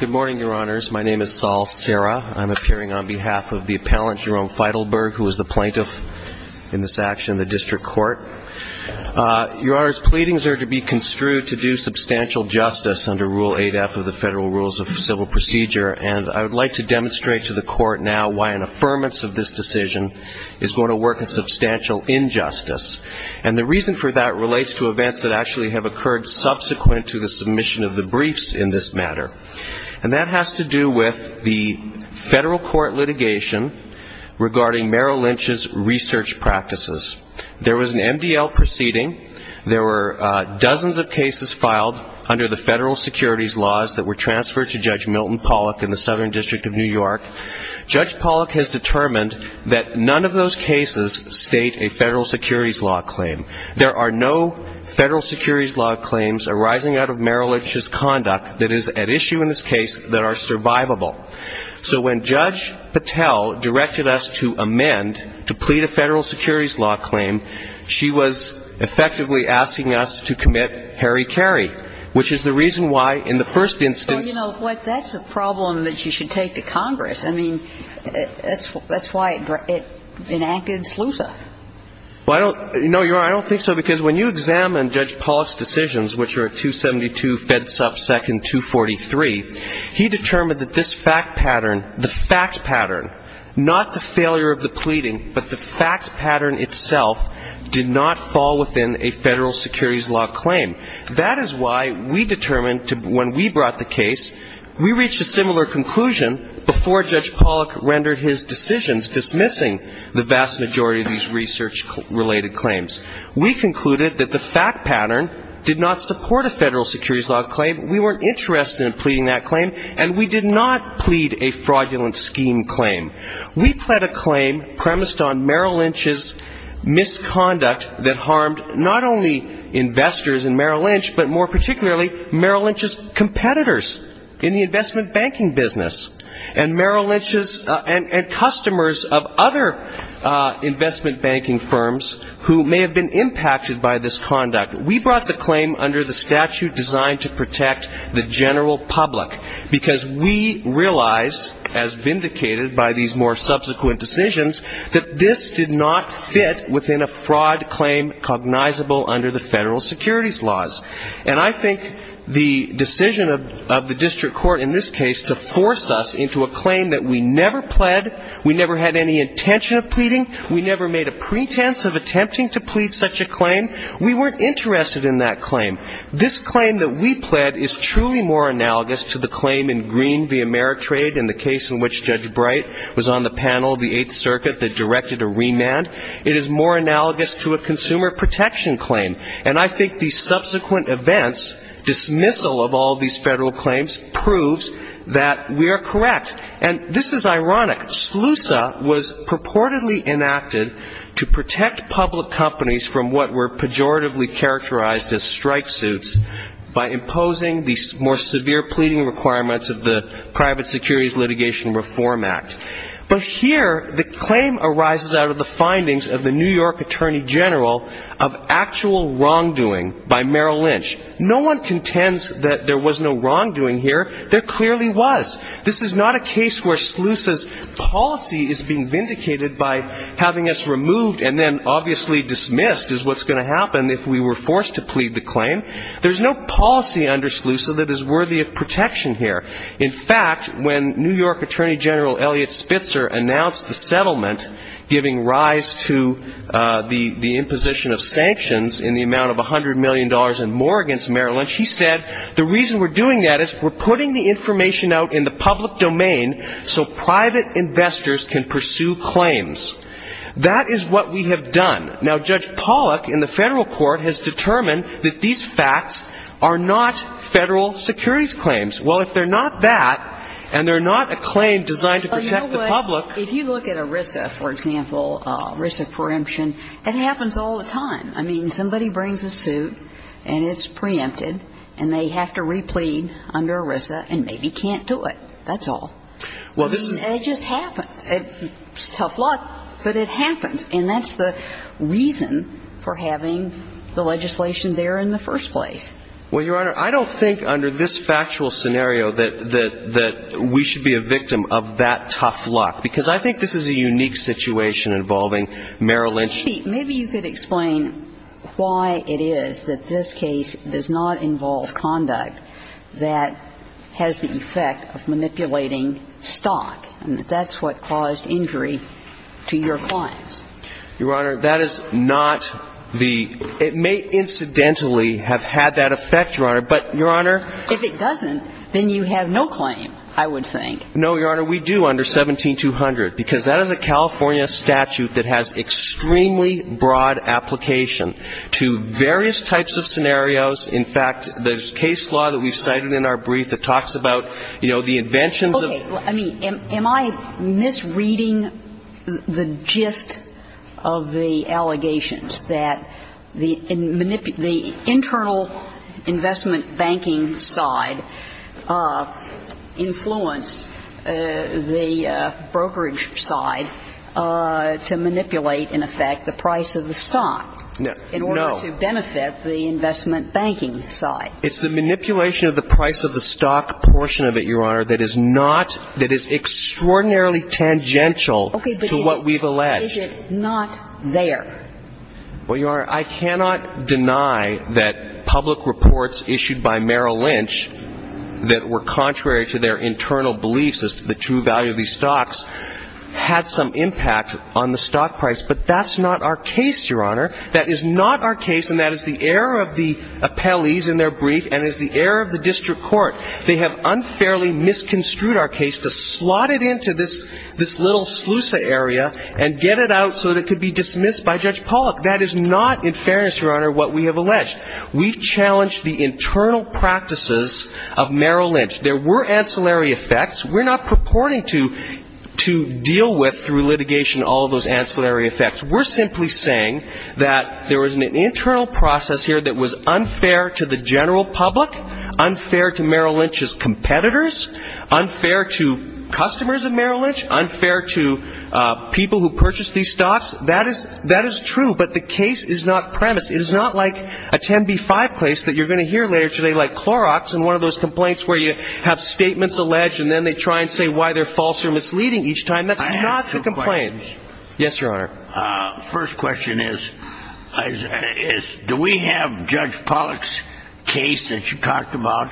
Good morning, Your Honors. My name is Saul Serra. I'm appearing on behalf of the appellant Jerome Feitelberg, who is the plaintiff in this action in the District Court. Your Honors, pleadings are to be construed to do substantial justice under Rule 8F of the Federal Rules of Civil Procedure, and I would like to demonstrate to the Court now why an affirmance of this act relates to events that actually have occurred subsequent to the submission of the briefs in this matter. And that has to do with the federal court litigation regarding Merrill Lynch's research practices. There was an MDL proceeding. There were dozens of cases filed under the federal securities laws that were transferred to Judge Milton Pollack in the Southern District of New York. Judge Pollack has determined that none of those cases state a federal securities law claim. There are no federal securities law claims arising out of Merrill Lynch's conduct that is at issue in this case that are survivable. So when Judge Patel directed us to amend, to plead a federal securities law claim, she was effectively asking us to commit Harry Carey, which is the reason why in the first instance ---- Well, you know, that's a problem that you should take to Congress. I mean, that's why it enacted SLUSA. Well, I don't ---- No, Your Honor, I don't think so, because when you examine Judge Pollack's decisions, which are at 272 FEDSUF 2nd 243, he determined that this fact pattern ---- the fact pattern, not the failure of the pleading, but the fact pattern itself did not fall within a federal securities law claim. That is why we determined to ---- when we brought the case, we reached a similar conclusion before Judge Pollack rendered his decisions dismissing the vast majority of these research-related claims. We concluded that the fact pattern did not support a federal securities law claim. We weren't interested in pleading that claim, and we did not plead a fraudulent scheme claim. We pled a claim premised on Merrill Lynch's misconduct that harmed not only investors in Merrill Lynch, but more particularly Merrill Lynch's competitors in the investment banking business, and Merrill Lynch's ---- and customers of other investment banking firms who may have been impacted by this conduct. We brought the claim under the statute designed to protect the general public, because we realized, as vindicated by these more subsequent decisions, that this did not fit within a fraud claim cognizable under the federal securities laws. And I think the decision of the district court in this case to force us into a claim that we never pled, we never had any intention of pleading, we never made a pretense of attempting to plead such a claim, we weren't interested in that claim. This claim that we pled is truly more analogous to the claim in Green v. Ameritrade in the case in which Judge Bright was on the panel of the Eighth Circuit that I think the subsequent events, dismissal of all these federal claims, proves that we are correct. And this is ironic. SLUSA was purportedly enacted to protect public companies from what were pejoratively characterized as strike suits by imposing the more severe pleading requirements of the Private Securities Litigation Reform Act. But here the claim arises out of the findings of the New York Attorney General of actual wrongdoing by Merrill Lynch. No one contends that there was no wrongdoing here. There clearly was. This is not a case where SLUSA's policy is being vindicated by having us removed and then obviously dismissed is what's going to happen if we were forced to plead the claim. There's no policy under SLUSA that is worthy of protection here. In fact, when New York Attorney General Eliot Pollock announced the settlement giving rise to the imposition of sanctions in the amount of $100 million and more against Merrill Lynch, he said the reason we're doing that is we're putting the information out in the public domain so private investors can pursue claims. That is what we have done. Now, Judge Pollock in the federal court has determined that these facts are not federal securities claims. Well, if they're not that and they're not a claim designed to protect the public If you look at ERISA, for example, ERISA preemption, it happens all the time. I mean, somebody brings a suit and it's preempted and they have to replead under ERISA and maybe can't do it. That's all. Well, this is It just happens. It's tough luck, but it happens. And that's the reason for having the legislation there in the first place. Well, Your Honor, I don't think under this factual scenario that we should be a victim of that tough luck because I think this is a unique situation involving Merrill Lynch Maybe you could explain why it is that this case does not involve conduct that has the effect of manipulating stock and that's what caused injury to your clients. Your Honor, that is not the It may incidentally have had that effect, Your Honor, but Your Honor If it doesn't, then you have no claim, I would think. No, Your Honor, we do under 17200 because that is a California statute that has extremely broad application to various types of scenarios. In fact, there's case law that we've cited in our brief that talks about, you know, the inventions Okay. I mean, am I misreading the gist of the allegations that the internal investment banking side influenced the brokerage side to manipulate, in effect, the price of the stock in order to benefit the investment banking side? It's the manipulation of the price of the stock portion of it, Your Honor, that is not that is extraordinarily tangential to what we've alleged. Okay. But is it not there? Well, Your Honor, I cannot deny that public reports issued by Merrill Lynch that were contrary to their internal beliefs as to the true value of these stocks had some impact on the stock price, but that's not our case, Your Honor. That is not our case and that is the error of the appellees in their brief and is the error of the district court. They have unfairly misconstrued our case to slot it into this little sluice area and get it out so that it could be dismissed by Judge Pollack. That is not, in fairness, Your Honor, what we have alleged. We've challenged the internal practices of Merrill Lynch. There were ancillary effects. We're not purporting to deal with, through litigation, all of those ancillary effects. We're simply saying that there was an internal process here that was unfair to the general public, unfair to Merrill Lynch's competitors, unfair to customers of stocks. That is true, but the case is not premised. It is not like a 10b-5 case that you're going to hear later today, like Clorox and one of those complaints where you have statements alleged and then they try and say why they're false or misleading each time. That's not the complaint. I have two questions. Yes, Your Honor. First question is, do we have Judge Pollack's case that you talked about?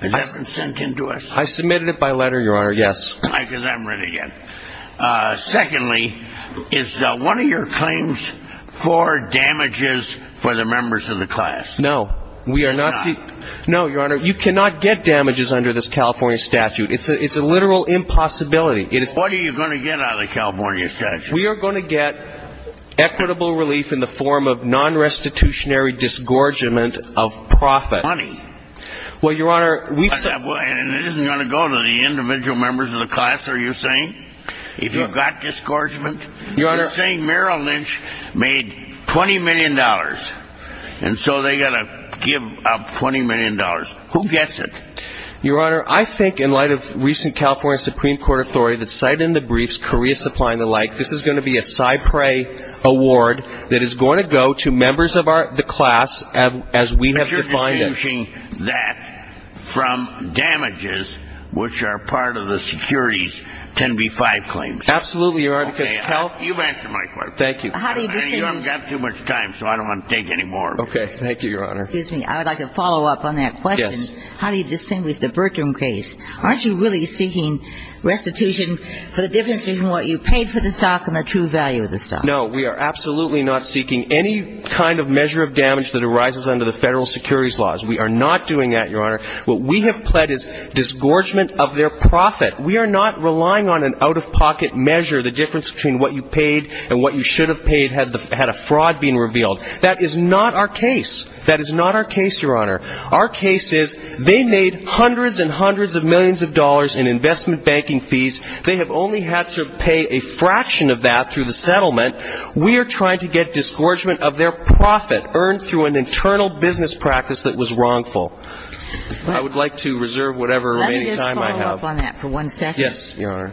Has that been sent in to us? I submitted it by letter, Your Honor, yes. Because I haven't read it yet. Secondly, is one of your claims for damages for the members of the class? No. It's not? No, Your Honor. You cannot get damages under this California statute. It's a literal impossibility. What are you going to get out of the California statute? We are going to get equitable relief in the form of non-restitutionary disgorgement of profit. Money. Well, Your Honor, we've members of the class, are you saying? If you've got disgorgement, you're saying Merrill Lynch made $20 million and so they've got to give up $20 million. Who gets it? Your Honor, I think in light of recent California Supreme Court authority that cited in the briefs Korea Supply and the like, this is going to be a CyPray award that is going to go to members of the class as we have defined it. Are you distinguishing that from damages which are part of the securities 10b-5 claims? Absolutely, Your Honor. Okay. You've answered my question. Thank you. You haven't got too much time, so I don't want to take any more of your time. Okay. Thank you, Your Honor. Excuse me. I would like a follow-up on that question. Yes. How do you distinguish the Bertram case? Aren't you really seeking restitution for the difference between what you paid for the stock and the true value of the stock? No. We are absolutely not seeking any kind of measure of damage that arises under the securities laws. We are not doing that, Your Honor. What we have pled is disgorgement of their profit. We are not relying on an out-of-pocket measure. The difference between what you paid and what you should have paid had a fraud being revealed. That is not our case. That is not our case, Your Honor. Our case is they made hundreds and hundreds of millions of dollars in investment banking fees. They have only had to pay a fraction of that through the settlement. We are trying to get disgorgement of their profit earned through an internal business practice that was wrongful. I would like to reserve whatever remaining time I have. Let me just follow up on that for one second. Yes, Your Honor.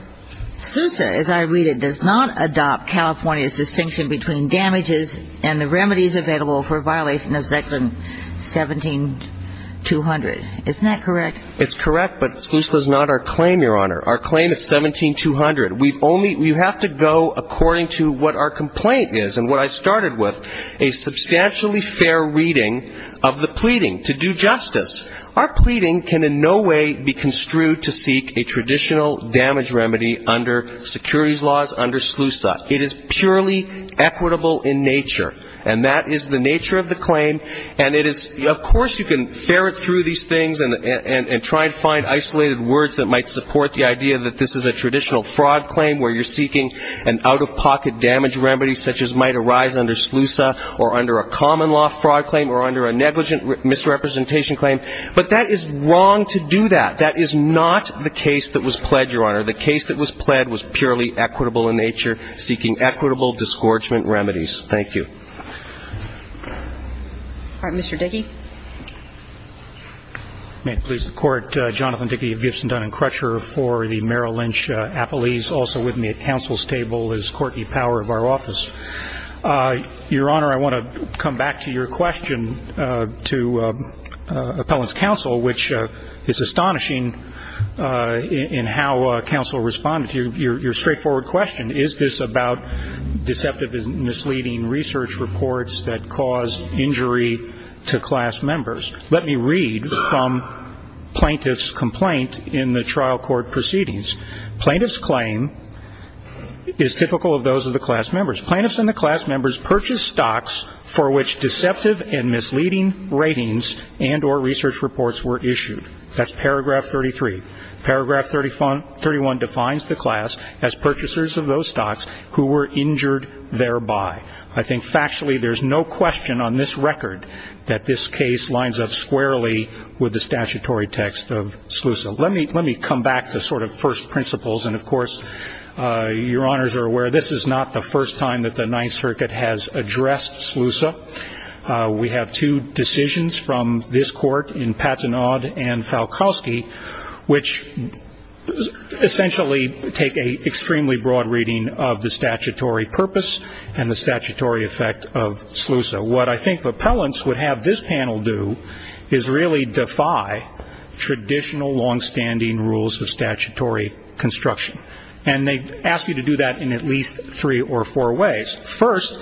SLUSA, as I read it, does not adopt California's distinction between damages and the remedies available for a violation of Section 17200. Isn't that correct? It's correct, but SLUSA is not our claim, Your Honor. Our claim is 17200. We've only – you have to go according to what our complaint is and what I started with, a substantially fair reading of the pleading to do justice. Our pleading can in no way be construed to seek a traditional damage remedy under securities laws under SLUSA. It is purely equitable in nature, and that is the nature of the claim, and it is – of course you can ferret through these things and try to find isolated words that might support the idea that this is a traditional fraud claim where you're seeking an out-of-pocket damage remedy such as might be a common-law fraud claim or under a negligent misrepresentation claim. But that is wrong to do that. That is not the case that was pled, Your Honor. The case that was pled was purely equitable in nature, seeking equitable disgorgement remedies. Thank you. All right. Mr. Dickey. May it please the Court, Jonathan Dickey of Gibson, Dun & Crutcher for the Merrill Lynch Appellees. Also with me at counsel's table is Courtney Power of our office. Your Honor, I want to come back to your question to appellant's counsel, which is astonishing in how counsel responded to your straightforward question. Is this about deceptive and misleading research reports that cause injury to class members? Let me read from plaintiff's complaint in the trial court proceedings. Plaintiff's claim is typical of those of the class members. Plaintiffs and the class members purchased stocks for which deceptive and misleading ratings and or research reports were issued. That's paragraph 33. Paragraph 31 defines the class as purchasers of those stocks who were injured thereby. I think factually there's no question on this record that this case lines up squarely with the statutory text of SLUSA. Let me come back to sort of first principles. And, of course, Your Honors are aware this is not the first time that the Ninth Circuit has addressed SLUSA. We have two decisions from this court in Patanod and Falkowski, which essentially take a extremely broad reading of the statutory purpose and the statutory effect of SLUSA. What I think appellants would have this panel do is really defy traditional longstanding rules of statutory construction. And they ask you to do that in at least three or four ways. First,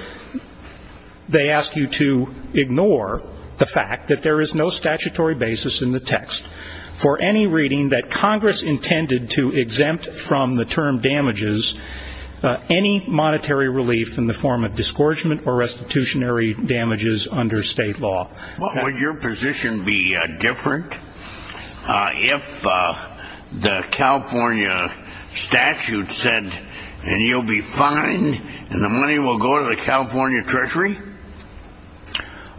they ask you to ignore the fact that there is no statutory basis in the text for any reading that Congress intended to exempt from the term damages any monetary relief in the form of disgorgement or restitutionary damages under state law. What would your position be different if the California statute said, and you'll be fine with that, and the money will go to the California Treasury?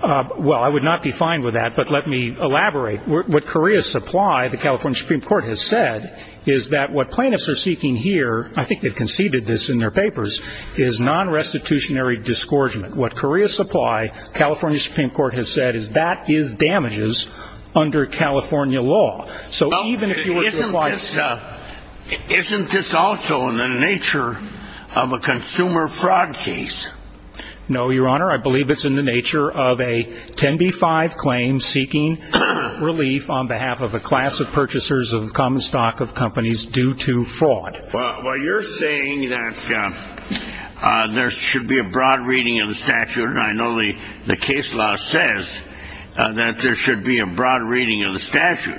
Well, I would not be fine with that. But let me elaborate. What Korea Supply, the California Supreme Court has said, is that what plaintiffs are seeking here, I think they've conceded this in their papers, is non-restitutionary disgorgement. What Korea Supply, California Supreme Court has said, is that is damages under California law. So even if you were to apply... Isn't this also in the nature of a consumer fraud case? No, Your Honor. I believe it's in the nature of a 10B5 claim seeking relief on behalf of a class of purchasers of common stock of companies due to fraud. Well, you're saying that there should be a broad reading of the statute, and I know the case law says that there should be a broad reading of the statute.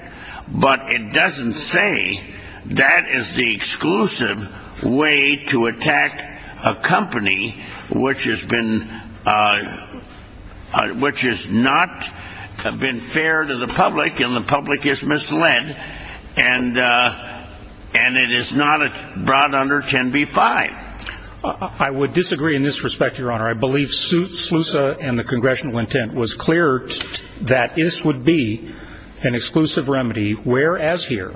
That is the exclusive way to attack a company which has been, which has not been fair to the public, and the public is misled, and it is not brought under 10B5. I would disagree in this respect, Your Honor. I believe SLUSA and the congressional intent was clear that this would be an unconstitutional case. It would be a case where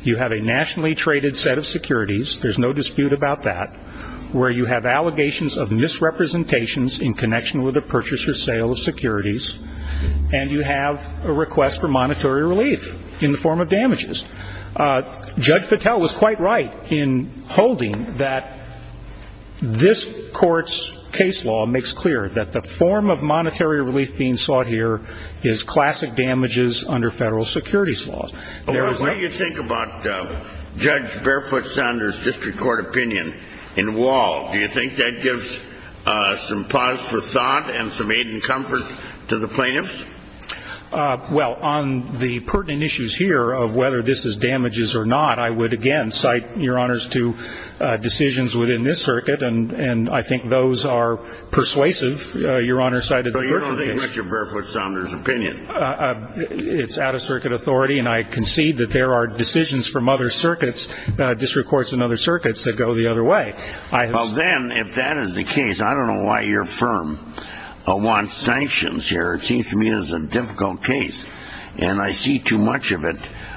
you have a nationally traded set of securities, there's no dispute about that, where you have allegations of misrepresentations in connection with a purchaser's sale of securities, and you have a request for monetary relief in the form of damages. Judge Patel was quite right in holding that this court's case law makes clear that the form of monetary relief being sought here is unconstitutional. Now, if you look at Judge Barefoot-Sanders' district court opinion in Wall, do you think that gives some pause for thought and some aid and comfort to the plaintiffs? Well, on the pertinent issues here of whether this is damages or not, I would again cite, Your Honors, to decisions within this circuit, and I think those are persuasive, Your Honor cited the person case. But you don't think much of Barefoot-Sanders' opinion. It's out-of-circuit authority, and I concede that there are decisions from other circuits, district courts and other circuits, that go the other way. Well, then, if that is the case, I don't know why your firm wants sanctions here. It seems to me it is a difficult case, and I see too much of it,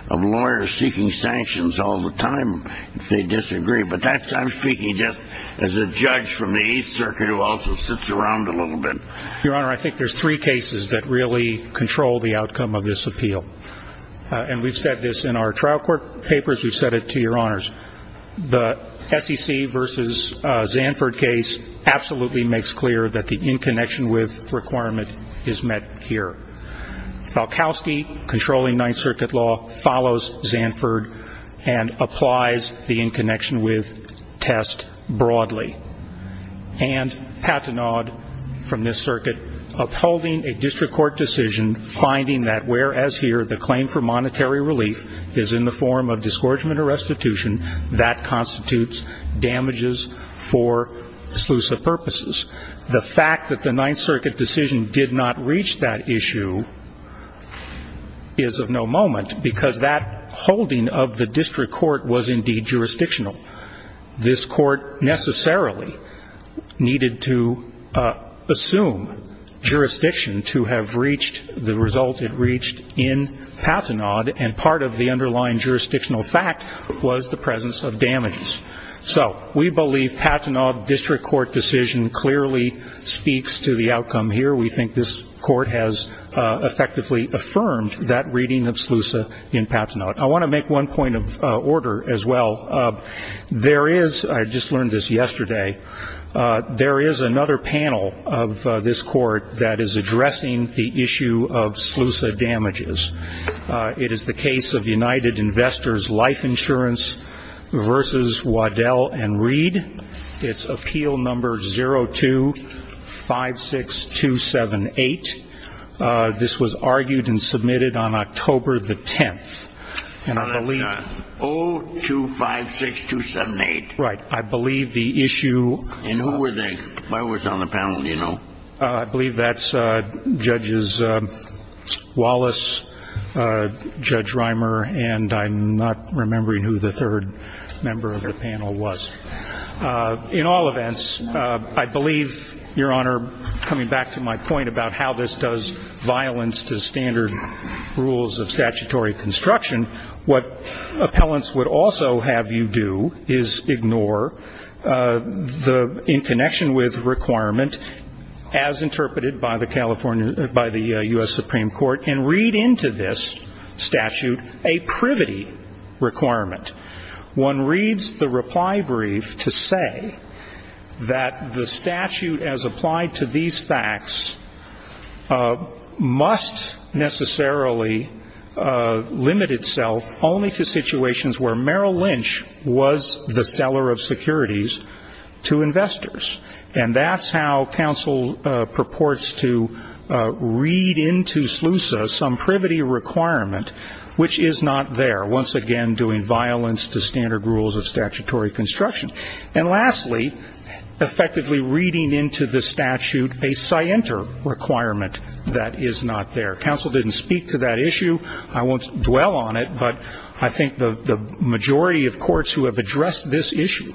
of lawyers seeking sanctions all the time if they disagree. But I'm speaking just as a judge from the Eighth Circuit who also sits around a little bit. Your Honor, I think there's three cases that really control the outcome of this appeal. And we've said this in our trial court papers. We've said it to Your Honors. The SEC versus Zanford case absolutely makes clear that the in connection with requirement is met here. Falkowski, controlling Ninth Circuit law, follows Zanford and applies the in connection with test broadly. And Pathanaud, from this circuit, upholding a district court decision, finding that whereas here the claim for monetary relief is in the form of discouragement or restitution, that constitutes damages for exclusive purposes. The fact that the Ninth Circuit decision did not reach that issue is of no moment because that holding of the district court was indeed jurisdictional. This court necessarily needed to assume jurisdiction to have reached the result it reached in Pathanaud, and part of the underlying jurisdictional fact was the presence of damages. So we believe Pathanaud district court decision clearly speaks to the outcome here. We think this court has effectively affirmed that reading of SLUSA in Pathanaud. I want to make one point of order as well. I just learned this yesterday. There is another panel of this court that is addressing the issue of SLUSA damages. It is the case of United Investors Life Insurance versus Waddell and Reed. It's appeal number 0256278. This was argued and submitted on October the 10th. And I believe the issue. And who was on the panel, do you know? I believe that's Judges Wallace, Judge Reimer, and I'm not remembering who the third member of the panel was. In all events, I believe, Your Honor, coming back to my point about how this does violence to standard rules of statutory construction, what appellants would also have you do is ignore the in connection with requirement as interpreted by the U.S. Supreme Court and read into this statute a privity requirement. One reads the reply brief to say that the statute as applied to these facts must necessarily limit itself only to situations where Merrill Lynch was the seller of securities to investors. And that's how counsel purports to read into SLUSA some privity requirement which is not there, once again doing violence to standard rules of statutory construction. And lastly, effectively reading into the statute a scienter requirement that is not there. Counsel didn't speak to that issue. I won't dwell on it, but I think the majority of courts who have addressed this issue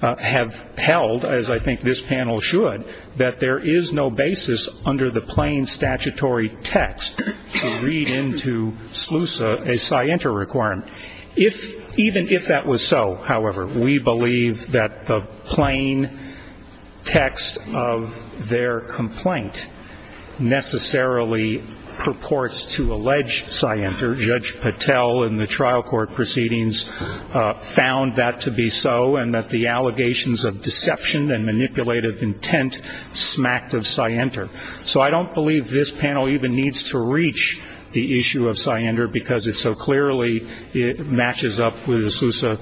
have held, as I think this panel should, that there is no basis under the plain statutory text to read into SLUSA a scienter requirement. Even if that was so, however, we believe that the plain text of their complaint necessarily purports to allege a scienter. Judge Patel in the trial court proceedings found that to be so and that the allegations of deception and manipulative intent smacked of scienter. So I don't believe this panel even needs to reach the issue of scienter because it so clearly matches up with SLUSA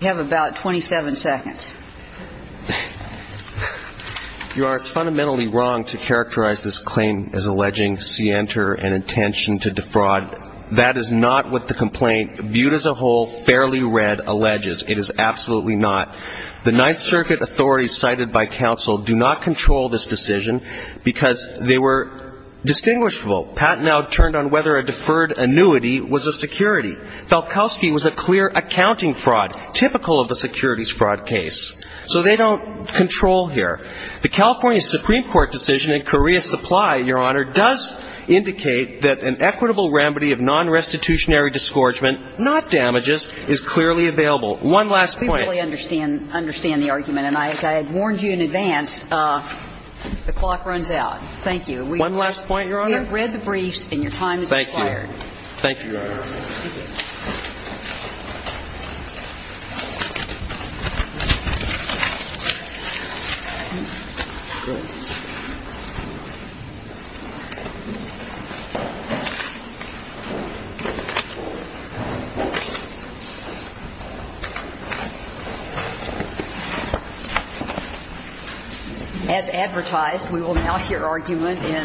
We have about 27 seconds. Your Honor, it's fundamentally wrong to characterize this claim as alleging scienter and intention to defraud. That is not what the complaint, viewed as a whole, fairly read, alleges. It is absolutely not. The Ninth Circuit authorities cited by counsel do not control this decision because they were distinguishable. Pat now turned on whether a deferred annuity was a security. Falkowski was a clear accounting fraud, typical of a securities fraud case. So they don't control here. The California Supreme Court decision in Korea Supply, Your Honor, does indicate that an equitable remedy of nonrestitutionary disgorgement, not damages, is clearly available. One last point. We have read the briefs and your time has expired. Thank you. As advertised, we will now hear argument in Florida.